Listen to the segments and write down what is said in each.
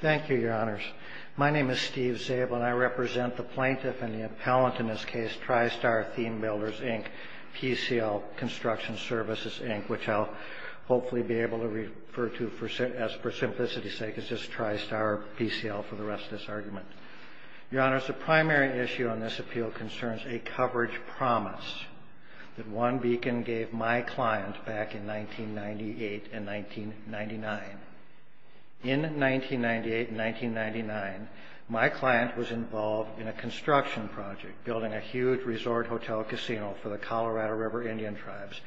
Thank you, Your Honors. My name is Steve Zabel, and I represent the plaintiff and the appellant in this case, Tri-Star Theme Builders, Inc., PCL Construction Services, Inc., which I'll hopefully be able to refer to as, for simplicity's sake, it's just Tri-Star PCL for the rest of this argument. Your Honors, the primary issue on this appeal concerns a coverage promise that OneBeacon gave my client back in 1998 and 1999. In 1998 and 1999, my client was involved in a construction project building a huge resort hotel casino for the Colorado River Indian Tribes.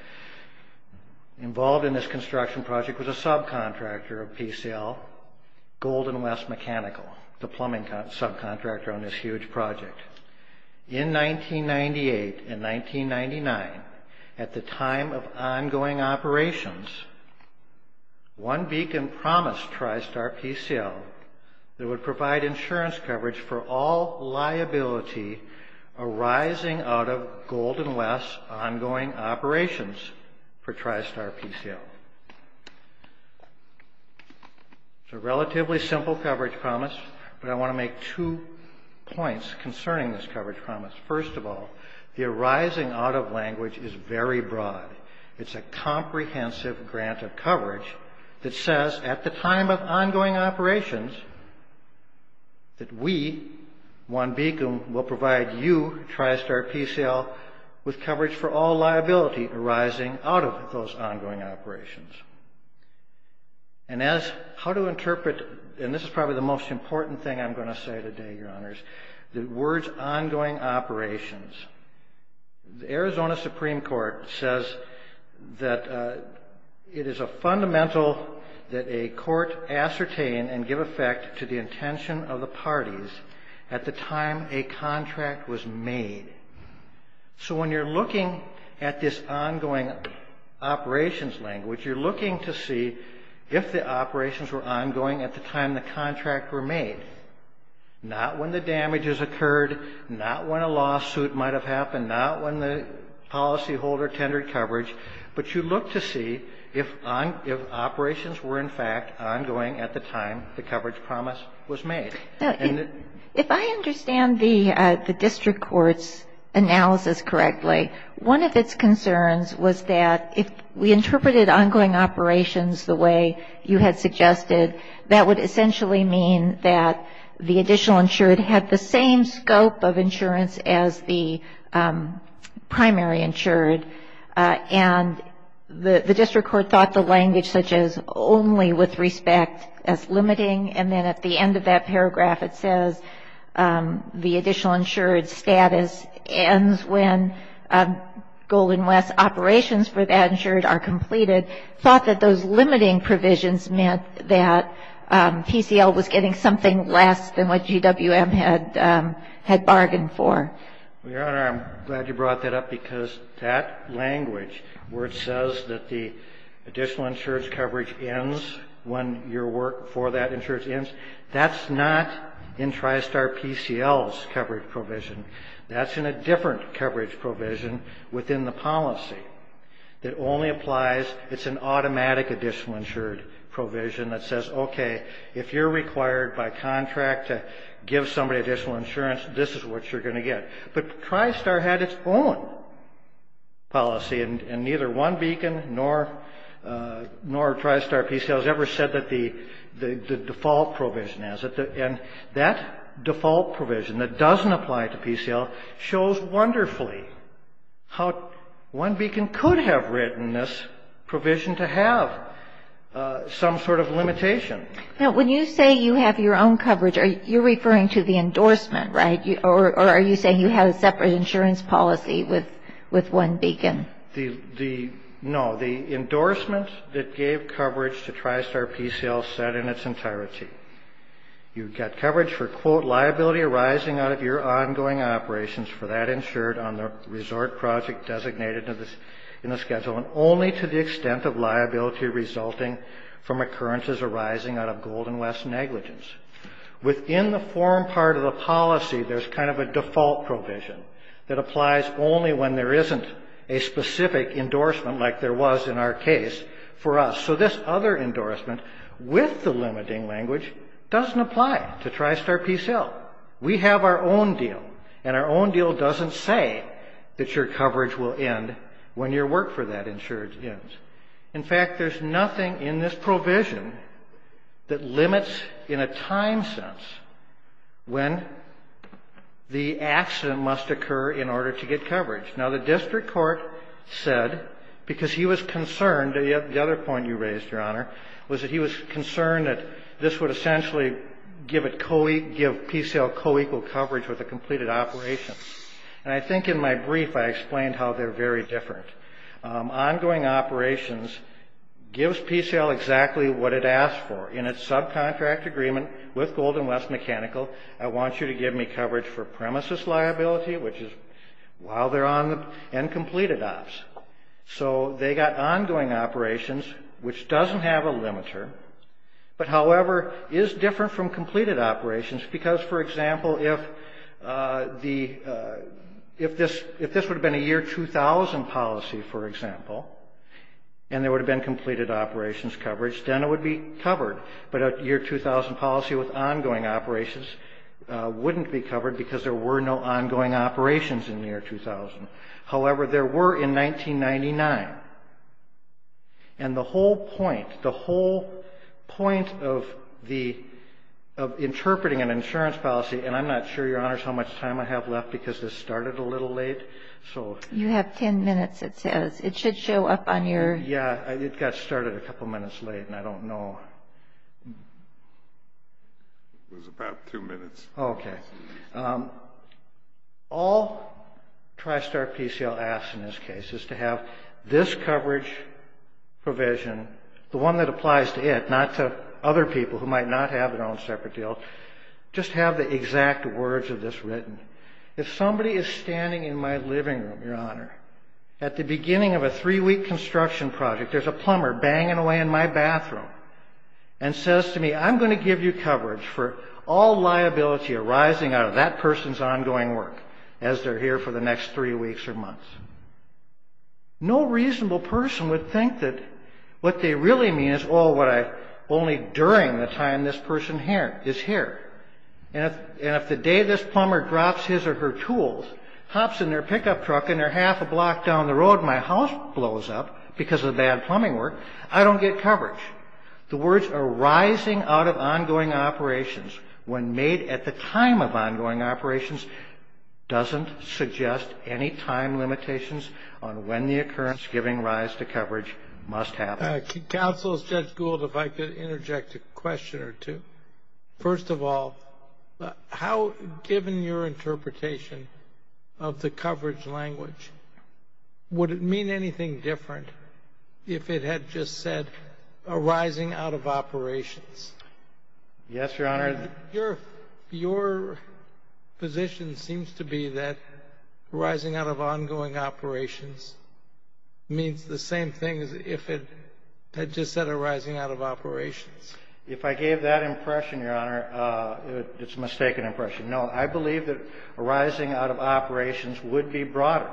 Involved in this construction project was a subcontractor of PCL, Golden West Mechanical, the plumbing subcontractor on this huge project. In 1998 and 1999, at the time of ongoing operations, OneBeacon promised Tri-Star PCL that it would provide insurance coverage for all liability arising out of Golden West's ongoing operations for no coverage promise, but I want to make two points concerning this coverage promise. First of all, the arising out of language is very broad. It's a comprehensive grant of coverage that says, at the time of ongoing operations, that we, OneBeacon, will provide you, Tri-Star PCL, with coverage for all liability arising out of those ongoing operations. And, as how to interpret, and this is probably the most important thing I'm going to say today, Your Honors, the words ongoing operations. The Arizona Supreme Court says that it is a fundamental that a court ascertain and give effect to the intention of the parties at the time a contract was made. So, when you're looking at this ongoing operations language, you're looking to see if the operations were ongoing at the time the contract were made. Not when the damages occurred, not when a lawsuit might have happened, not when the policyholder tendered coverage, but you look to see if operations were, in fact, ongoing at the time the coverage promise was made. Now, if I understand the district court's analysis correctly, one of its concerns was that if we interpreted ongoing operations the way you had suggested, that would essentially mean that the additional insured had the same scope of insurance as the primary insured. And the district court thought the language such as only with respect as limiting, and then at the end of that paragraph it says the additional insured status ends when Golden Conditions for that insured are completed, thought that those limiting provisions meant that PCL was getting something less than what GWM had bargained for. Well, Your Honor, I'm glad you brought that up, because that language where it says that the additional insurance coverage ends when your work for that insurance ends, that's not in TriStar PCL's coverage provision. That's in a different coverage provision within the policy that only applies, it's an automatic additional insured provision that says, okay, if you're required by contract to give somebody additional insurance, this is what you're going to get. But TriStar had its own policy, and neither one beacon nor TriStar PCL has ever said that the default provision has it. And that default provision that doesn't apply to PCL shows wonderfully how one beacon could have written this provision to have some sort of limitation. Now, when you say you have your own coverage, you're referring to the endorsement, right? Or are you saying you have a separate insurance policy with one beacon? No, the endorsement that gave coverage to TriStar PCL said in its entirety, you've got coverage for, quote, liability arising out of your ongoing operations for that insured on the resort project designated in the schedule, and only to the extent of liability resulting from occurrences arising out of Golden West negligence. Within the form part of the policy, there's kind of a default provision that applies only when there isn't a specific endorsement like there was in our case for us. So this other endorsement with the limiting language doesn't apply to TriStar PCL. We have our own deal, and our own deal doesn't say that your coverage will end when your work for that insurance ends. In fact, there's nothing in this provision that limits in a time sense when the accident must occur in order to get coverage. Now, the district court said, because he was concerned you raised, Your Honor, was that he was concerned that this would essentially give PCL co-equal coverage with a completed operation. And I think in my brief I explained how they're very different. Ongoing operations gives PCL exactly what it asked for. In its subcontract agreement with Golden West Mechanical, I want you to give me coverage for premises liability, which is while they're on and completed ops. So they got ongoing operations, which doesn't have a limiter, but however, is different from completed operations because, for example, if this would have been a year 2000 policy, for example, and there would have been completed operations coverage, then it would be covered. But a year 2000 policy with ongoing operations wouldn't be covered because there were no ongoing operations in the year 2000. However, there were in 1999. And the whole point, the whole point of interpreting an insurance policy, and I'm not sure, Your Honors, how much time I have left because this started a little late. You have 10 minutes, it says. It should show up on your... Yeah, it got started a couple minutes late, and I don't know. It was about two minutes. Okay. All TriStar PCL asks in this case is to have this coverage provision, the one that applies to it, not to other people who might not have their own separate deal, just have the exact words of this written. If somebody is standing in my living room, Your Honor, at the beginning of a three-week construction project, there's a plumber banging away in my bathroom and says to me, I'm going to give you coverage for all liability arising out of that person's ongoing work as they're here for the next three weeks or months. No reasonable person would think that what they really mean is, oh, only during the time this person is here. And if the day this plumber drops his or her tools, hops in their pickup truck and they're half a block down the road and my house blows up because of bad plumbing work, I don't get coverage. The words arising out of ongoing operations when made at the time of ongoing operations doesn't suggest any time limitations on when the occurrence giving rise to coverage must happen. Counsel, Judge Gould, if I could interject a question or two. First of all, how, given your interpretation of the coverage language, would it mean anything different if it had just said arising out of operations? Yes, Your Honor. Your position seems to be that arising out of ongoing operations means the same thing as if it had just said arising out of operations. If I gave that impression, Your Honor, it's a mistaken impression. No, I believe that arising out of operations would be broader.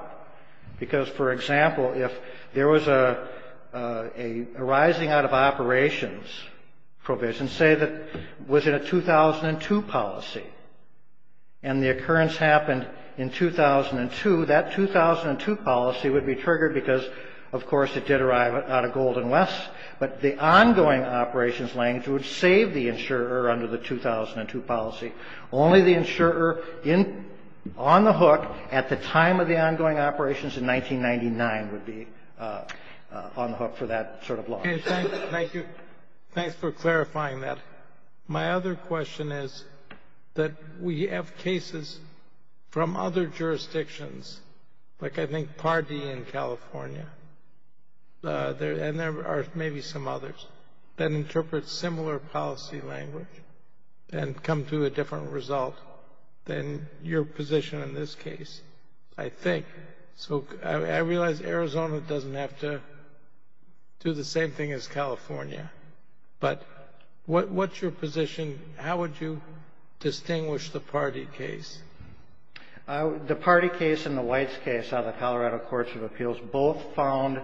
Because, for example, if there was a arising out of operations provision, say that was in a 2002 policy, and the occurrence happened in 2002, that 2002 policy would be triggered because, of course, it did arrive out of Golden West, but the ongoing operations language would save the insurer under the 2002 policy. Only the insurer on the hook at the time of the ongoing operations in 1999 would be on the hook for that sort of law. Okay. Thank you. Thanks for clarifying that. My other question is that we have cases from other jurisdictions, like I think Pardee in California, and there are maybe some others, that interpret similar policy language and come to a different result than your position in this case, I think. I realize Arizona doesn't have to do the same thing as California, but what's your position? How would you distinguish the Pardee case? The Pardee case and the Weitz case out of the Colorado Courts of Appeals both found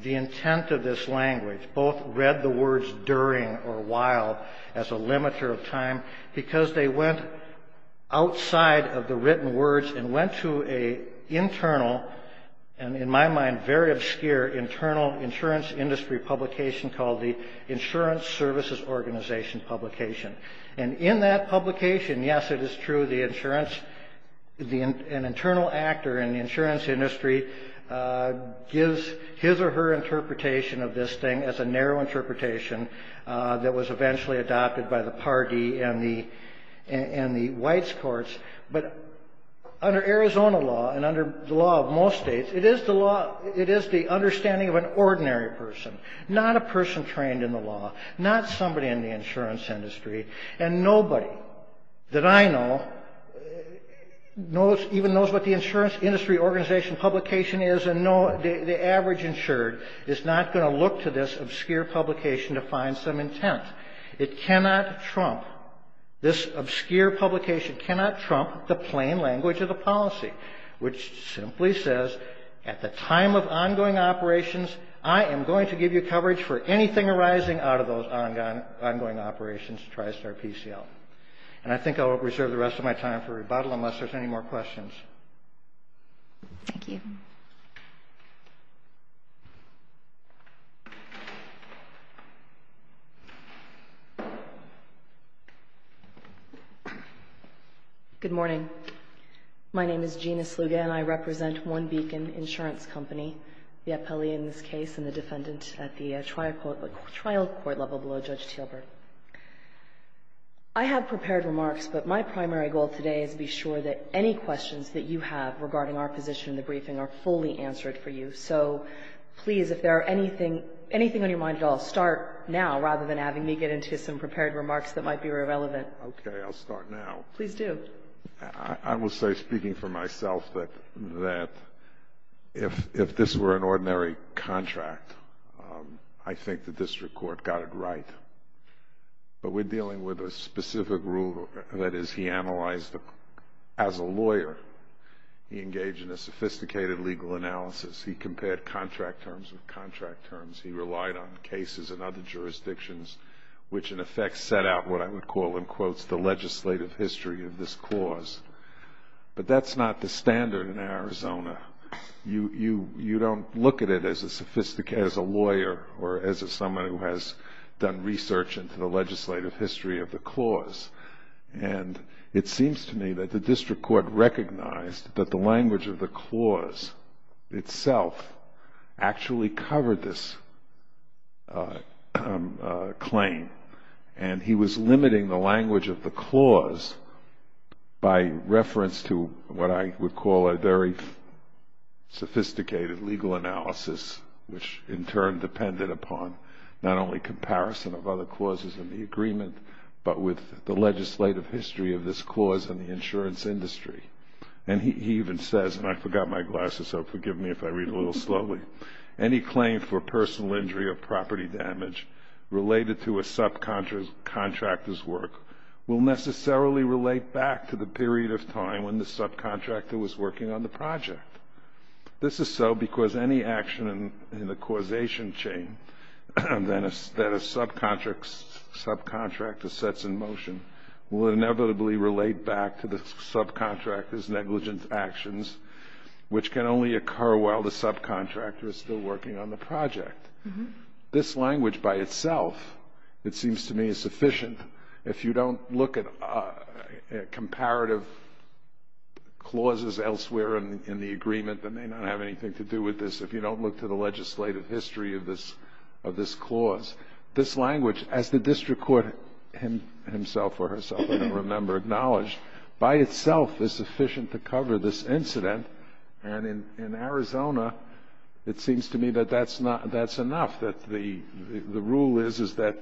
the intent of this language. Both read the words during or while as a limiter of time because they went outside of the written words and went to an internal, and in my mind very obscure, internal insurance industry publication called the Insurance Services Organization Publication. And in that publication, yes, it is true, an internal actor in the insurance industry gives his or her interpretation of this thing as a narrow interpretation that was eventually adopted by the Pardee and the Weitz courts. But under Arizona law and under the law of most states, it is the understanding of an ordinary person, not a person trained in the law, not somebody in the insurance industry, and nobody that I know even knows what the insurance industry organization publication is and the average insured is not going to look to this obscure publication to find some intent. It cannot trump, this obscure publication cannot trump the plain language of the policy, which simply says at the time of ongoing operations, I am going to give you coverage for anything arising out of those ongoing operations, TriStar PCL. And I think I'll reserve the rest of my time for rebuttal unless there's any more questions. Thank you. Good morning. My name is Gina Sluga, and I represent One Beacon Insurance Company, the appellee in this case and the defendant at the trial court level below Judge Tielburg. I have prepared remarks, but my primary goal today is to be sure that any questions that you have regarding our position in the briefing are fully answered for you. So please, if there are anything on your mind at all, start now rather than having me get into some prepared remarks that might be irrelevant. Okay. I'll start now. Please do. I will say, speaking for myself, that if this were an ordinary contract, I think the district court got it right. But we're dealing with a specific rule that is he analyzed as a lawyer, he engaged in a sophisticated legal analysis, he compared contract terms with contract terms, he relied on cases in other jurisdictions, which in effect set out what I would call the legislative history of this clause. But that's not the standard in Arizona. You don't look at it as a lawyer or as someone who has done research into the legislative history of the clause. And it seems to me that the district court recognized that the language of the clause itself actually covered this claim, and he was limiting the language of the clause by reference to what I would call a very sophisticated legal analysis, which in turn depended upon not only comparison of other clauses in the agreement, but with the legislative history of this clause in the insurance industry. And he even says, and I forgot my glasses, so forgive me if I read a little slowly, any claim for personal will necessarily relate back to the period of time when the subcontractor was working on the project. This is so because any action in the causation chain that a subcontractor sets in motion will inevitably relate back to the subcontractor's negligent actions, which can only occur while the subcontractor is still working on the project. This language by itself, it seems to me, is sufficient. If you don't look at comparative clauses elsewhere in the agreement, then they don't have anything to do with this. If you don't look to the legislative history of this clause, this language, as the district court himself or herself, I don't remember, acknowledged, by itself is sufficient to cover this incident. And in Arizona, it seems to me that that's enough, that the rule is, is that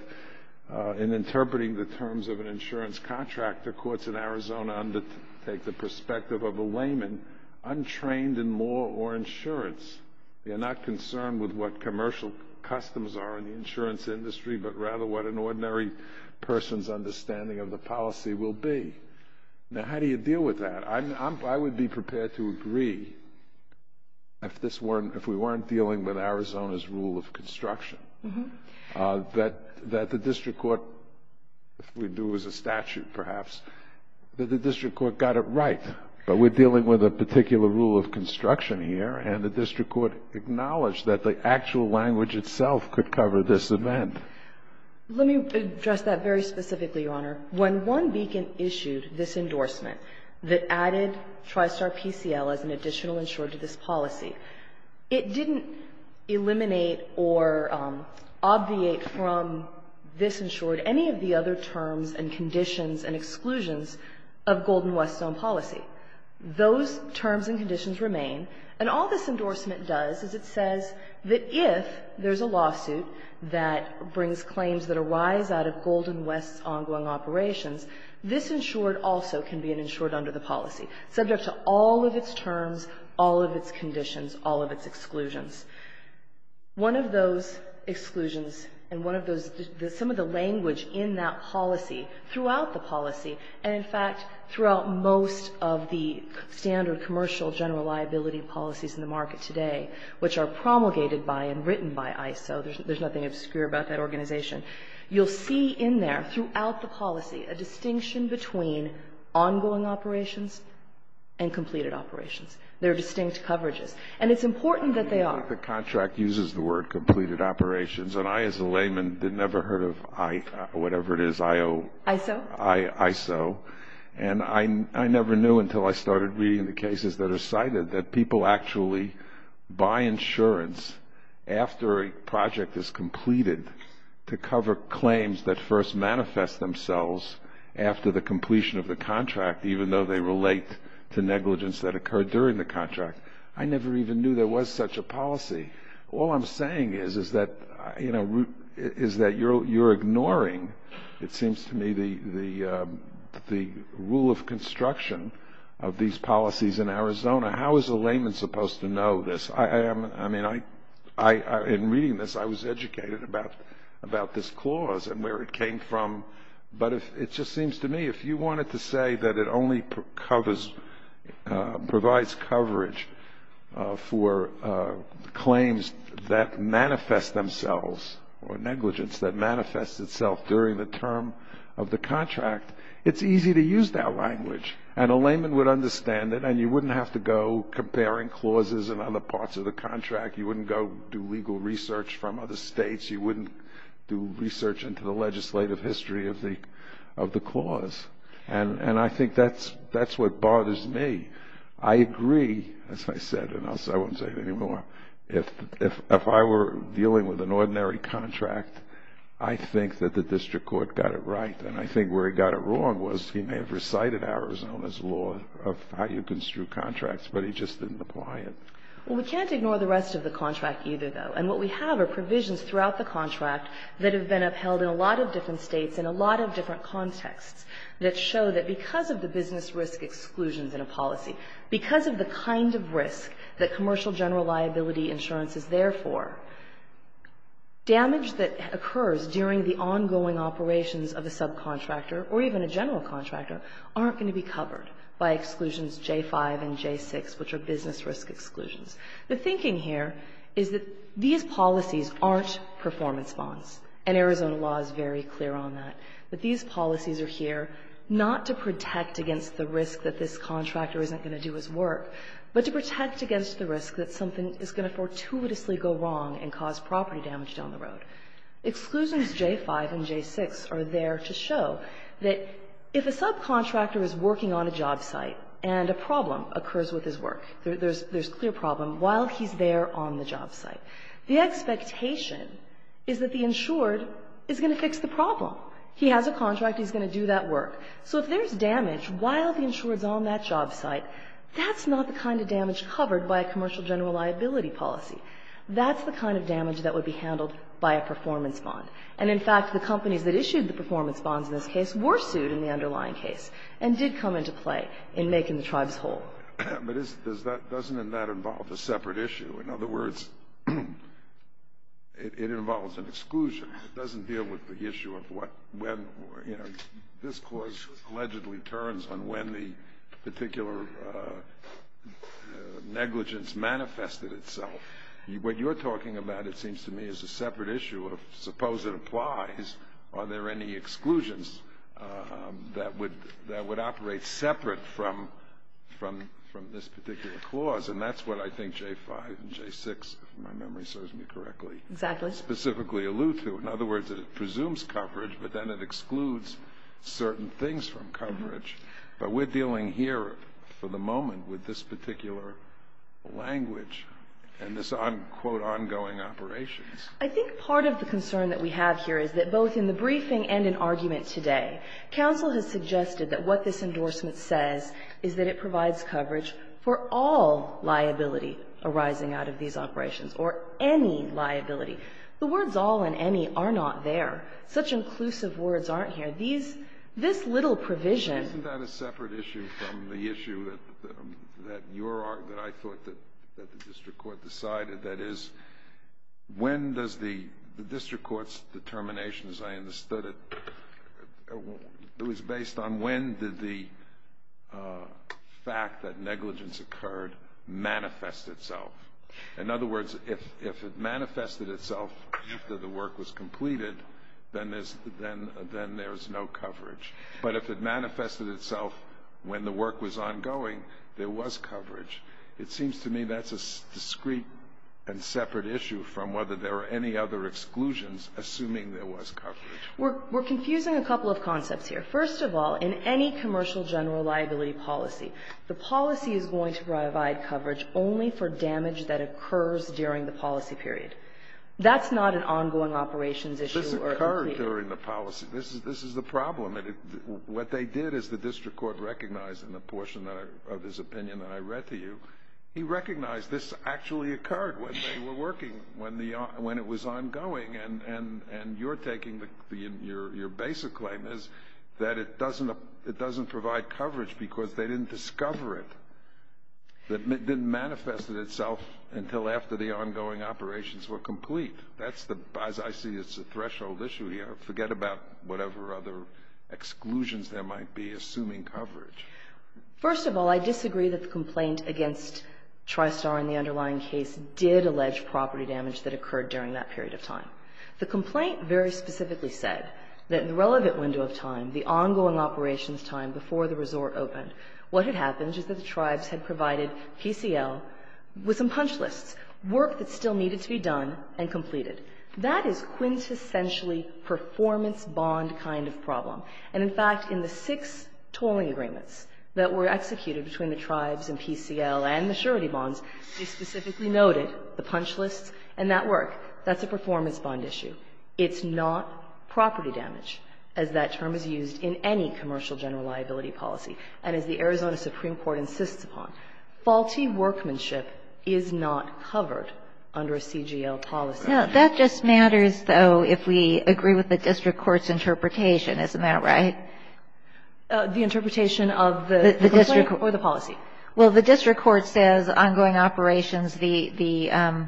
in interpreting the terms of an insurance contract, the courts in Arizona undertake the perspective of a layman untrained in law or insurance. They're not concerned with what commercial customs are in the insurance industry, but rather what an ordinary person's understanding of the policy will be. Now, how do you deal with that? I'm, I'm, I would be prepared to agree if this weren't, if we weren't dealing with Arizona's rule of construction, that, that the district court, if we do as a statute, perhaps, that the district court got it right. But we're dealing with a particular rule of construction here, and the district court acknowledged that the actual language itself could cover this event. Let me address that very specifically, Your Honor. When one beacon issued this endorsement that added TriStar PCL as an additional insured to this policy, it didn't eliminate or obviate from this insured any of the other terms and conditions and exclusions of Golden West Zone policy. Those terms and conditions remain, and all this endorsement does is it says that if there's a lawsuit that brings claims that arise out of Golden West's ongoing operations, this insured also can be an insured under the policy, subject to all of its terms, all of its conditions, all of its exclusions. One of those exclusions and one of those, some of the language in that policy, throughout the policy, and in fact, throughout most of the standard commercial general liability policies in the market today, which are promulgated by and written by ISO, there's nothing obscure about that organization, you'll see in there, throughout the policy, a distinction between ongoing operations and completed operations. There are distinct coverages. And it's important that they are. The contract uses the word completed operations, and I, as a layman, had never heard of whatever it is, I-O. ISO? ISO. And I never knew until I started reading the cases that are cited that people actually buy insurance after a project is completed to cover claims that first manifest themselves after the completion of the contract, even though they relate to negligence that occurred during the contract. I never even knew there was such a policy. All I'm saying is, is that you're ignoring, it seems to me, the rule of construction of these policies in Arizona. How is a layman supposed to know this? I mean, in reading this, I was educated about this clause and where it came from. But it just seems to me, if you wanted to say that it only covers, provides coverage for claims that manifest themselves, or negligence that manifests itself during the term of the contract, it's easy to use that language. And a layman would understand it, and you wouldn't have to go comparing clauses in other parts of the contract. You wouldn't go do legal research from other states. You wouldn't do research into the legislative history of the clause. And I think that's what bothers me. I agree, as I said, and I won't say it anymore, if I were dealing with an ordinary contract, I think that the district court got it right. And I think where it got it wrong was he may have recited Arizona's law of how you construe contracts, but he just didn't apply it. Well, we can't ignore the rest of the contract either, though. And what we have are provisions throughout the contract that have been upheld in a lot of different states in a lot of different contexts that show that because of the business risk exclusions in a policy, because of the kind of risk that commercial general liability insurance is there for, damage that occurs during the ongoing operations of a subcontractor or even a general contractor aren't going to be covered by exclusions J-5 and J-6, which are business risk exclusions. The thinking here is that these policies aren't performance bonds, and Arizona law is very clear on that. But these policies are here not to protect against the risk that this contractor isn't going to do his work, but to protect against the risk that something is going to fortuitously go wrong and cause property damage down the road. Exclusions J-5 and J-6 are there to show that if a subcontractor is working on a job site and a problem occurs with his work, there's clear problem, while he's there on the job site, the expectation is that the insured is going to fix the problem. He has a contract. He's going to do that work. So if there's damage while the insured's on that job site, that's not the kind of damage covered by a commercial general liability policy. That's the kind of damage that would be handled by a performance bond. And, in fact, the companies that issued the performance bonds in this case were sued in the underlying case and did come into play in making the tribes whole. But isn't that doesn't in that involve a separate issue? In other words, it involves an exclusion. It doesn't deal with the issue of what, when, or, you know, this Clause allegedly returns on when the particular negligence manifested itself. What you're talking about, it seems to me, is a separate issue of suppose it applies, are there any exclusions that would operate separate from this particular Clause? And that's what I think J-5 and J-6, if my memory serves me correctly, specifically allude to. In other words, that it presumes coverage, but then it excludes certain things from coverage. But we're dealing here, for the moment, with this particular language and this, quote, ongoing operations. I think part of the concern that we have here is that both in the briefing and in argument today, counsel has suggested that what this endorsement says is that it provides coverage for all liability arising out of these operations, or any liability. The words all and any are not there. Such inclusive words aren't here. These this little provision. Isn't that a separate issue from the issue that I thought that the district court decided? That is, when does the district court's determination, as I understood it, it was based on when did the fact that negligence occurred manifest itself? In other words, if it manifested itself after the work was completed, then there's no coverage. But if it manifested itself when the work was ongoing, there was coverage. It seems to me that's a discreet and separate issue from whether there are any other exclusions assuming there was coverage. We're confusing a couple of concepts here. First of all, in any commercial general liability policy, the policy is going to provide coverage only for damage that occurs during the policy period. That's not an ongoing operations issue or a complete one. During the policy, this is this is the problem. And what they did is the district court recognized in the portion of his opinion that I read to you, he recognized this actually occurred when they were working, when the when it was ongoing. And and and you're taking the your basic claim is that it doesn't it doesn't provide coverage because they didn't discover it. That didn't manifest itself until after the ongoing operations were complete. That's the as I see it's a threshold issue here. Forget about whatever other exclusions there might be assuming coverage. First of all, I disagree that the complaint against Tristar in the underlying case did allege property damage that occurred during that period of time. The complaint very specifically said that in the relevant window of time, the ongoing operations time before the resort opened, what had happened is that the tribes had That is quintessentially performance bond kind of problem. And in fact, in the six tolling agreements that were executed between the tribes and PCL and the surety bonds, they specifically noted the punch lists and that work. That's a performance bond issue. It's not property damage, as that term is used in any commercial general liability policy. And as the Arizona Supreme Court insists upon, faulty workmanship is not covered under a CGL policy. That just matters, though, if we agree with the district court's interpretation. Isn't that right? The interpretation of the district or the policy? Well, the district court says ongoing operations, the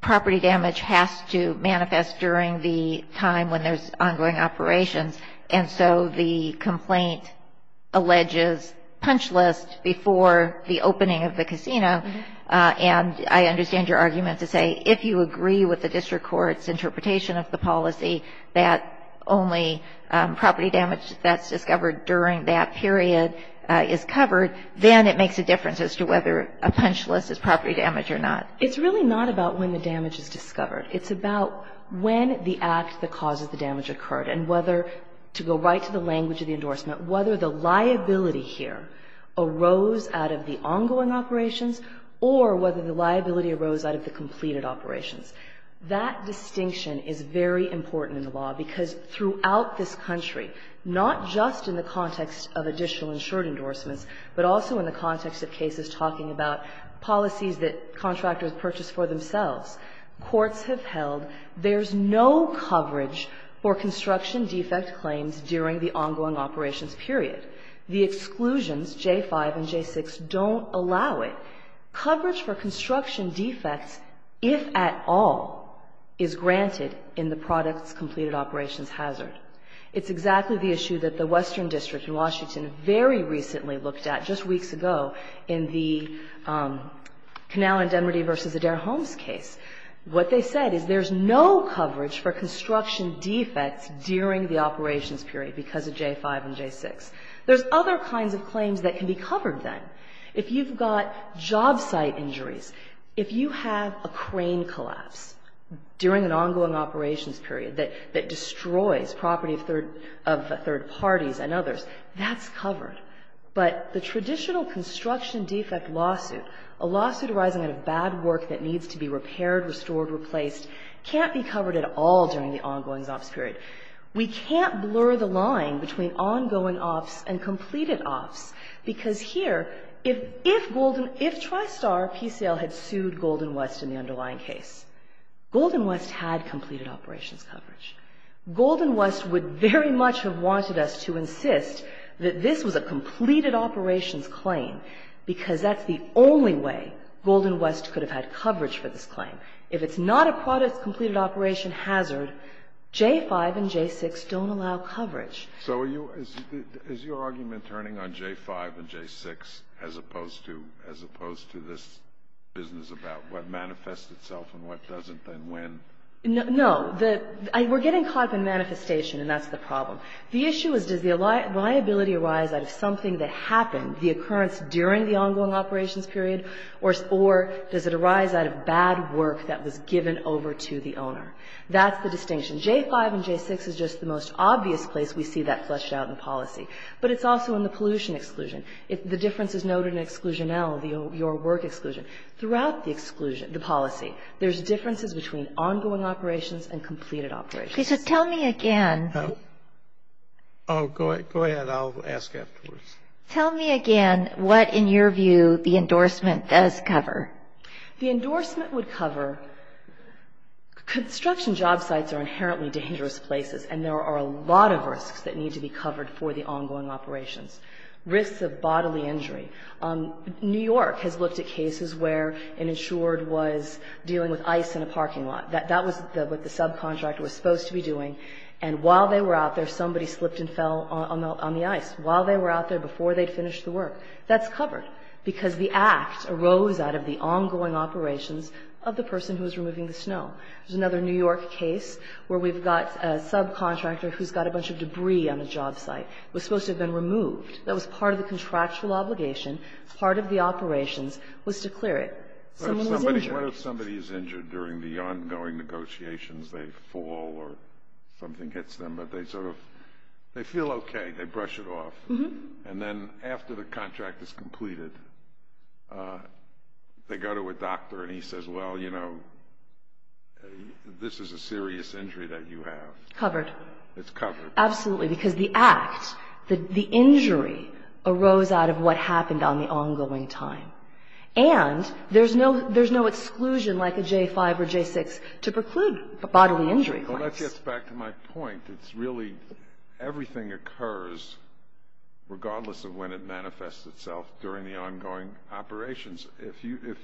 property damage has to manifest during the time when there's ongoing operations. And so the complaint alleges punch list before the opening of the casino. And I understand your argument to say if you agree with the district court's interpretation of the policy, that only property damage that's discovered during that period is covered, then it makes a difference as to whether a punch list is property damage or not. It's really not about when the damage is discovered. It's about when the act that causes the damage occurred and whether to go right to the language of the endorsement, whether the liability here arose out of the or whether the liability arose out of the completed operations. That distinction is very important in the law because throughout this country, not just in the context of additional insured endorsements, but also in the context of cases talking about policies that contractors purchase for themselves, courts have held there's no coverage for construction defect claims during the ongoing operations period. The exclusions, J-5 and J-6, don't allow it. Coverage for construction defects, if at all, is granted in the products completed operations hazard. It's exactly the issue that the Western District in Washington very recently looked at just weeks ago in the Canal and Demerty v. Adair Homes case. What they said is there's no coverage for construction defects during the operations period because of J-5 and J-6. There's other kinds of claims that can be covered then. If you've got job site injuries, if you have a crane collapse during an ongoing operations period that destroys property of third parties and others, that's covered. But the traditional construction defect lawsuit, a lawsuit arising out of bad work that needs to be repaired, restored, replaced, can't be covered at all during the ongoing ops period. We can't blur the line between ongoing ops and completed ops because here, if Tristar, PCL, had sued Golden West in the underlying case, Golden West had completed operations coverage. Golden West would very much have wanted us to insist that this was a completed operations claim because that's the only way Golden West could have had coverage for this claim. If it's not a product-completed operation hazard, J-5 and J-6 don't allow coverage. So are you — is your argument turning on J-5 and J-6 as opposed to — as opposed to this business about what manifests itself and what doesn't and when? No. The — we're getting caught up in manifestation, and that's the problem. The issue is, does the liability arise out of something that happened, the occurrence during the ongoing operations period, or does it arise out of bad work that was given over to the owner? That's the distinction. J-5 and J-6 is just the most obvious place we see that fleshed out in policy. But it's also in the pollution exclusion. The difference is noted in exclusion L, your work exclusion. Throughout the exclusion — the policy, there's differences between ongoing operations and completed operations. Okay. So tell me again — Oh, go ahead. I'll ask afterwards. Tell me again what, in your view, the endorsement does cover. The endorsement would cover — construction job sites are inherently dangerous places, and there are a lot of risks that need to be covered for the ongoing operations. Risks of bodily injury. New York has looked at cases where an insured was dealing with ice in a parking lot. That was what the subcontractor was supposed to be doing. And while they were out there, somebody slipped and fell on the ice. While they were out there, before they'd finished the work. That's covered. Because the act arose out of the ongoing operations of the person who was removing the snow. There's another New York case where we've got a subcontractor who's got a bunch of debris on a job site. It was supposed to have been removed. That was part of the contractual obligation. Part of the operations was to clear it. Someone was injured. What if somebody is injured during the ongoing negotiations? They fall or something hits them, but they sort of — they feel okay. They brush it off. And then after the contract is completed, they go to a doctor and he says, well, you know, this is a serious injury that you have. Covered. It's covered. Absolutely. Because the act, the injury, arose out of what happened on the ongoing time. And there's no exclusion like a J-5 or J-6 to preclude bodily injury. Well, that gets back to my point. It's really — everything occurs regardless of when it manifests itself during the ongoing operations. If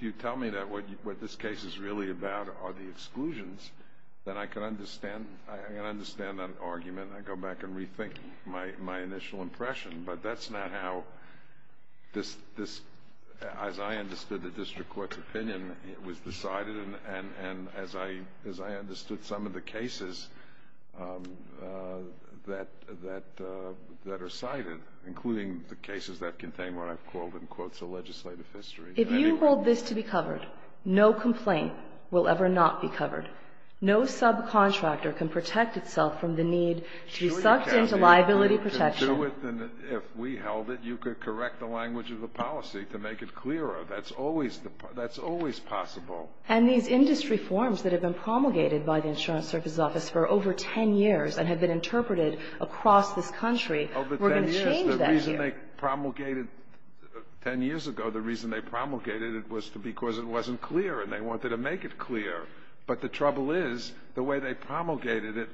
you tell me that what this case is really about are the exclusions, then I can understand — I can understand that argument. I go back and rethink my initial impression. But that's not how this — as I understood the district court's opinion, it was not how I understood some of the cases that are cited, including the cases that contain what I've called, in quotes, a legislative history. If you hold this to be covered, no complaint will ever not be covered. No subcontractor can protect itself from the need to be sucked into liability protection. Sure you can, dear, and if we held it, you could correct the language of the policy to make it clearer. That's always — that's always possible. And these industry forms that have been promulgated by the Insurance Service Office for over 10 years and have been interpreted across this country were going to change that here. Over 10 years, the reason they promulgated — 10 years ago, the reason they promulgated it was because it wasn't clear, and they wanted to make it clear. But the trouble is, the way they promulgated it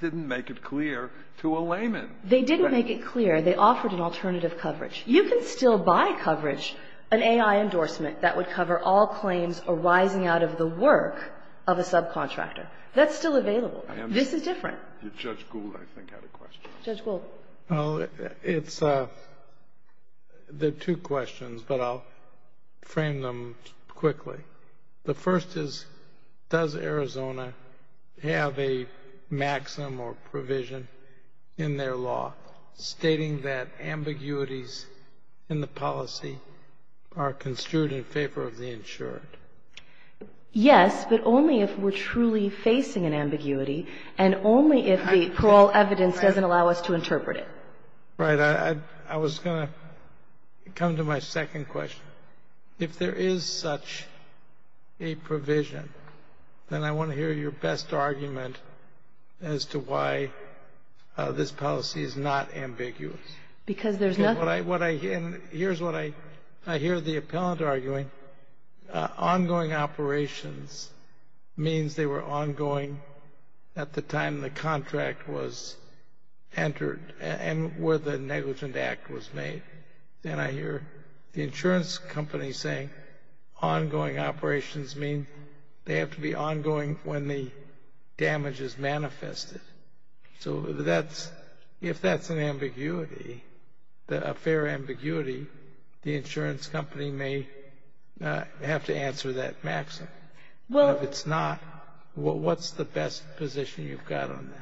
didn't make it clear to a layman. They didn't make it clear. They offered an alternative coverage. You can still buy coverage, an A.I. endorsement that would cover all claims arising out of the work of a subcontractor. That's still available. This is different. I am — Judge Gould, I think, had a question. Judge Gould. Well, it's — there are two questions, but I'll frame them quickly. The first is, does Arizona have a maxim or provision in their law stating that ambiguities in the policy are construed in favor of the insured? Yes, but only if we're truly facing an ambiguity and only if the parole evidence doesn't allow us to interpret it. Right. I was going to come to my second question. If there is such a provision, then I want to hear your best argument as to why this policy is not ambiguous. Because there's nothing — What I — and here's what I — I hear the appellant arguing. Ongoing operations means they were ongoing at the time the contract was entered and where the negligent act was made. Then I hear the insurance company saying ongoing operations mean they have to be ongoing when the damage is manifested. So that's — if that's an ambiguity, a fair ambiguity, the insurance company may have to answer that maxim. Well — And if it's not, what's the best position you've got on that?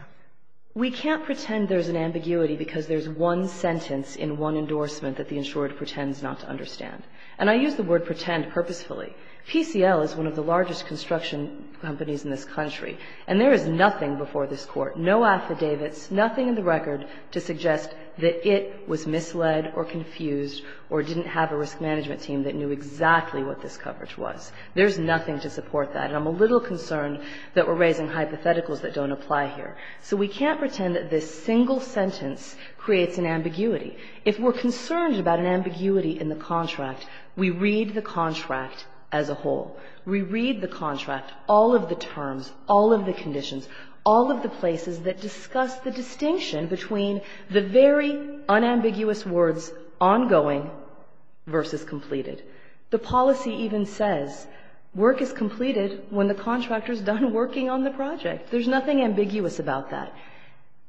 We can't pretend there's an ambiguity because there's one sentence in one endorsement that the insured pretends not to understand. And I use the word pretend purposefully. PCL is one of the largest construction companies in this country, and there is nothing before this Court, no affidavits, nothing in the record to suggest that it was misled or confused or didn't have a risk management team that knew exactly what this coverage was. There's nothing to support that. And I'm a little concerned that we're raising hypotheticals that don't apply here. So we can't pretend that this single sentence creates an ambiguity. If we're concerned about an ambiguity in the contract, we read the contract as a whole. We read the contract, all of the terms, all of the conditions, all of the places that discuss the distinction between the very unambiguous words ongoing versus completed. The policy even says work is completed when the contractor is done working on the project. There's nothing ambiguous about that.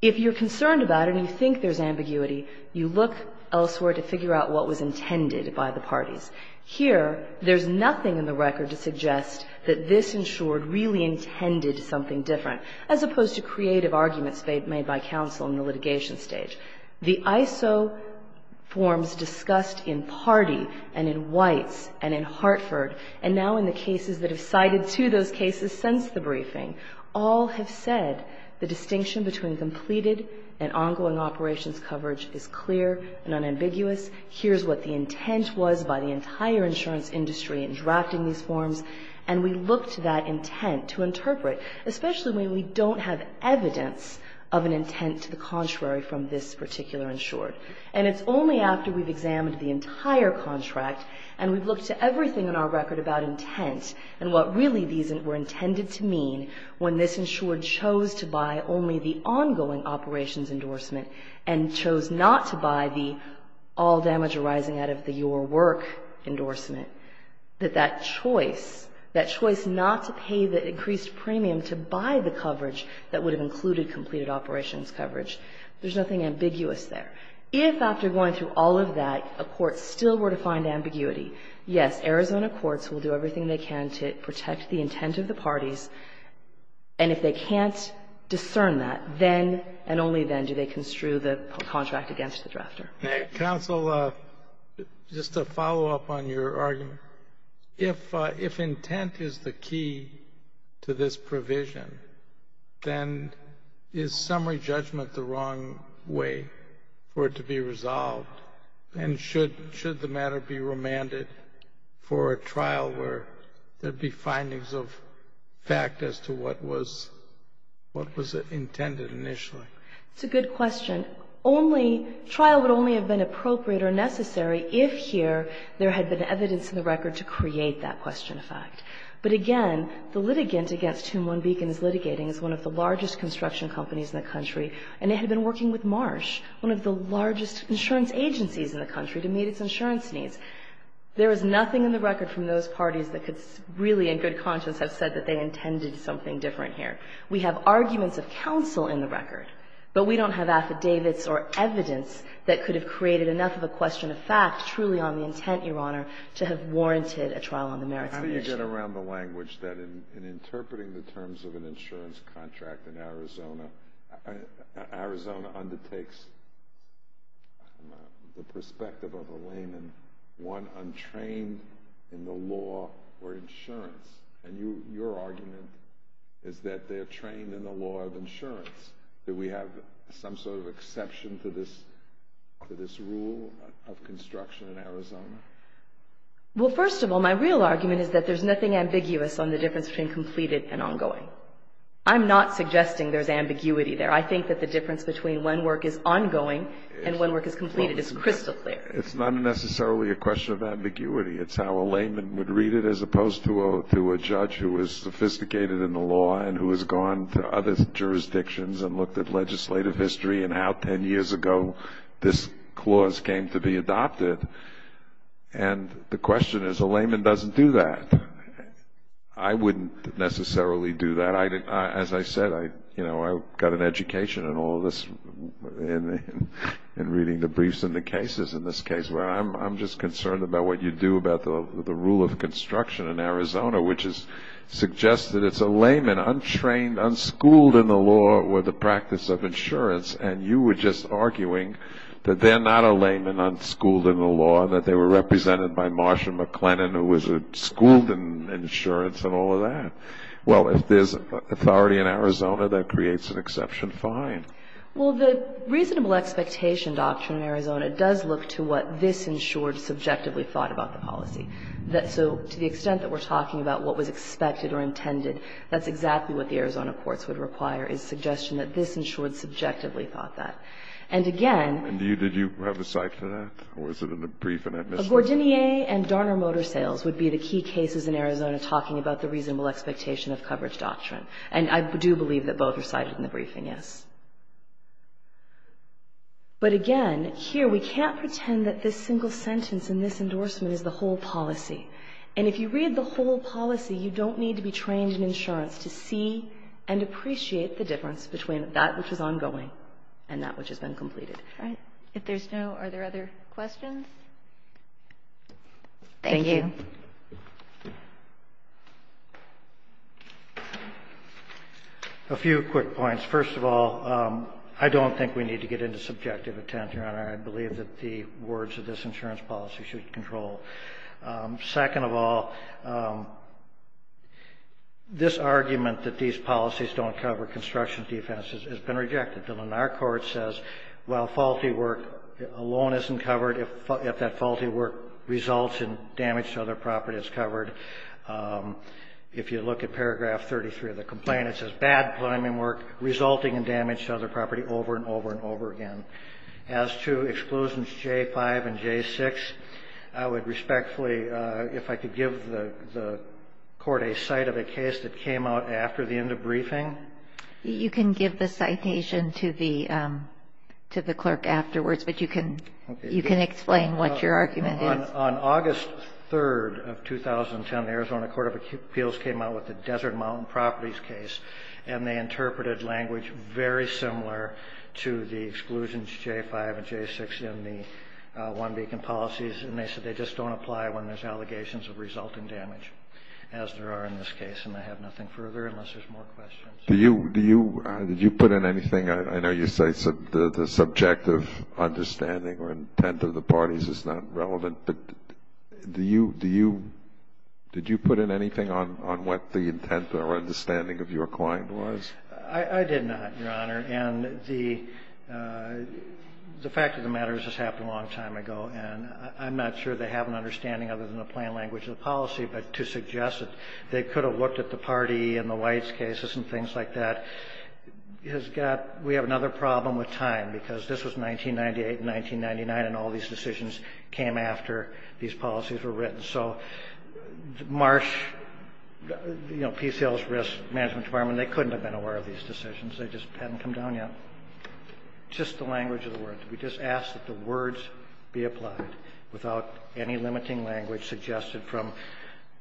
If you're concerned about it and you think there's ambiguity, you look elsewhere to figure out what was intended by the parties. Here, there's nothing in the record to suggest that this insured really intended something different, as opposed to creative arguments made by counsel in the litigation stage. The ISO forms discussed in Party and in Weitz and in Hartford and now in the cases that have cited to those cases since the briefing, all have said the distinction between completed and ongoing operations coverage is clear and unambiguous. Here's what the intent was by the entire insurance industry in drafting these forms. And we looked to that intent to interpret, especially when we don't have evidence of an intent to the contrary from this particular insured. And it's only after we've examined the entire contract and we've looked to everything in our record about intent and what really these were intended to mean when this insured chose to buy only the ongoing operations endorsement and chose not to buy the all damage arising out of the your work endorsement, that that choice, that choice not to pay the increased premium to buy the coverage that would have included completed operations coverage, there's nothing ambiguous there. If after going through all of that, a court still were to find ambiguity, yes, Arizona courts will do everything they can to protect the intent of the parties. And if they can't discern that, then and only then do they construe the contract against the drafter. Counsel, just to follow up on your argument, if if intent is the key to this provision, then is summary judgment the wrong way for it to be resolved? And should should the matter be remanded for a trial where there'd be findings of fact as to what was what was intended initially? It's a good question. Only trial would only have been appropriate or necessary if here there had been evidence in the record to create that question of fact. But again, the litigant against whom One Beacon is litigating is one of the largest construction companies in the country, and it had been working with Marsh, one of the largest insurance agencies in the country, to meet its insurance needs. There is nothing in the record from those parties that could really in good conscience have said that they intended something different here. We have arguments of counsel in the record, but we don't have affidavits or evidence that could have created enough of a question of fact truly on the intent, Your Honor, to have warranted a trial on the merits of the issue. How do you get around the language that in interpreting the terms of an insurance contract in Arizona, Arizona undertakes the perspective of a layman, one untrained in the law or insurance, and your argument is that they're trained in the law of insurance, that we have some sort of exception to this rule of construction in Arizona? Well, first of all, my real argument is that there's nothing ambiguous on the difference between completed and ongoing. I'm not suggesting there's ambiguity there. I think that the difference between when work is ongoing and when work is completed is crystal clear. It's not necessarily a question of ambiguity. It's how a layman would read it as opposed to a judge who is sophisticated in the law and who has gone to other jurisdictions and looked at legislative history and how 10 years ago this clause came to be adopted. And the question is, a layman doesn't do that. I wouldn't necessarily do that. As I said, I got an education in all this, in reading the briefs and the cases in this case, I was concerned about what you do about the rule of construction in Arizona, which is suggested it's a layman, untrained, unschooled in the law or the practice of insurance. And you were just arguing that they're not a layman, unschooled in the law, that they were represented by Marsha MacLennan, who was a schooled in insurance and all of that. Well, if there's authority in Arizona, that creates an exception fine. Well, the reasonable expectation doctrine in Arizona does look to what this insured subjectively thought about the policy. So to the extent that we're talking about what was expected or intended, that's exactly what the Arizona courts would require, is a suggestion that this insured subjectively thought that. And again ---- And did you have a cite for that, or was it in the brief and that missed it? Gordinier and Darner Motor Sales would be the key cases in Arizona talking about the reasonable expectation of coverage doctrine. And I do believe that both are cited in the briefing, yes. But again, here we can't pretend that this single sentence in this endorsement is the whole policy. And if you read the whole policy, you don't need to be trained in insurance to see and appreciate the difference between that which is ongoing and that which has been completed. All right. If there's no ---- Are there other questions? Thank you. A few quick points. First of all, I don't think we need to get into subjective intent, Your Honor. I believe that the words of this insurance policy should control. Second of all, this argument that these policies don't cover construction defense has been rejected. The Lenar court says, while faulty work alone isn't covered, if that faulty work results in damage to other property, it's covered. If you look at paragraph 33 of the complaint, it says, bad plumbing work resulting in damage to other property over and over and over again. As to exclusions J5 and J6, I would respectfully, if I could give the court a cite of a case that came out after the end of briefing. You can give the citation to the clerk afterwards, but you can explain what your argument is. On August 3rd of 2010, the Arizona Court of Appeals came out with the Desert Mountain Properties case, and they interpreted language very similar to the exclusions J5 and J6 in the one-beacon policies, and they said they just don't apply when there's allegations of resulting damage, as there are in this case. And I have nothing further, unless there's more questions. Do you put in anything? I know you say the subjective understanding or intent of the parties is not relevant. But do you do you did you put in anything on what the intent or understanding of your client was? I did not, Your Honor. And the fact of the matter is this happened a long time ago, and I'm not sure they have an understanding other than the plain language of the policy, but to suggest that they could have looked at the party and the White's cases and things like that has got we have another problem with time, because this was 1998 and 1999, and all these decisions came after these policies were written. So Marsh, you know, PCL's Risk Management Department, they couldn't have been aware of these decisions. They just hadn't come down yet. Just the language of the words. We just ask that the words be applied without any limiting language suggested from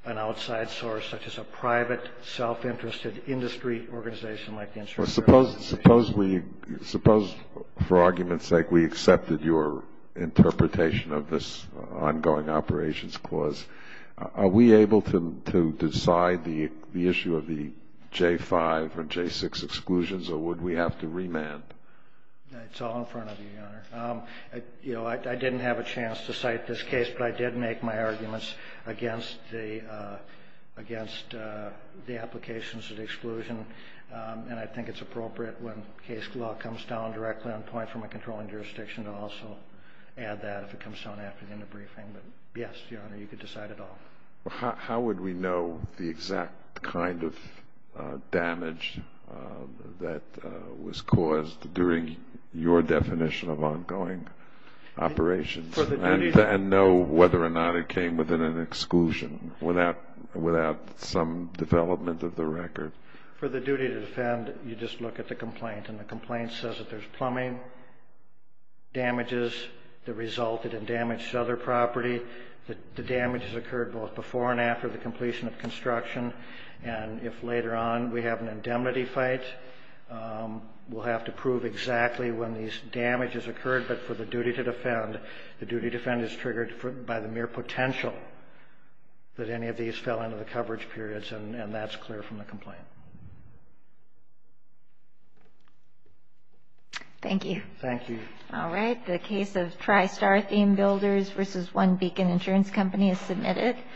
an outside source, such as a private, self-interested industry organization like the insurance company. Suppose, for argument's sake, we accepted your interpretation of this ongoing operations clause. Are we able to decide the issue of the J-5 and J-6 exclusions, or would we have to remand? It's all in front of you, Your Honor. You know, I didn't have a chance to cite this case, but I did make my arguments against the applications of exclusion, and I think it's appropriate when case law comes down directly on point from a controlling jurisdiction to also add that if it comes down after the end of briefing. But yes, Your Honor, you could decide it all. How would we know the exact kind of damage that was caused during your definition of ongoing operations and know whether or not it came within an exclusion without some development of the record? For the duty to defend, you just look at the complaint, and the complaint says that there's plumbing damages that resulted in damage to other property, that the damage has occurred both before and after the completion of construction, and if later on we have an indemnity fight, we'll have to prove exactly when these damages occurred. But for the duty to defend, the duty to defend is triggered by the mere potential that any of these fell into the coverage periods, and that's clear from the complaint. Thank you. Thank you. All right. The case of TriStar Theme Builders v. One Beacon Insurance Company is submitted.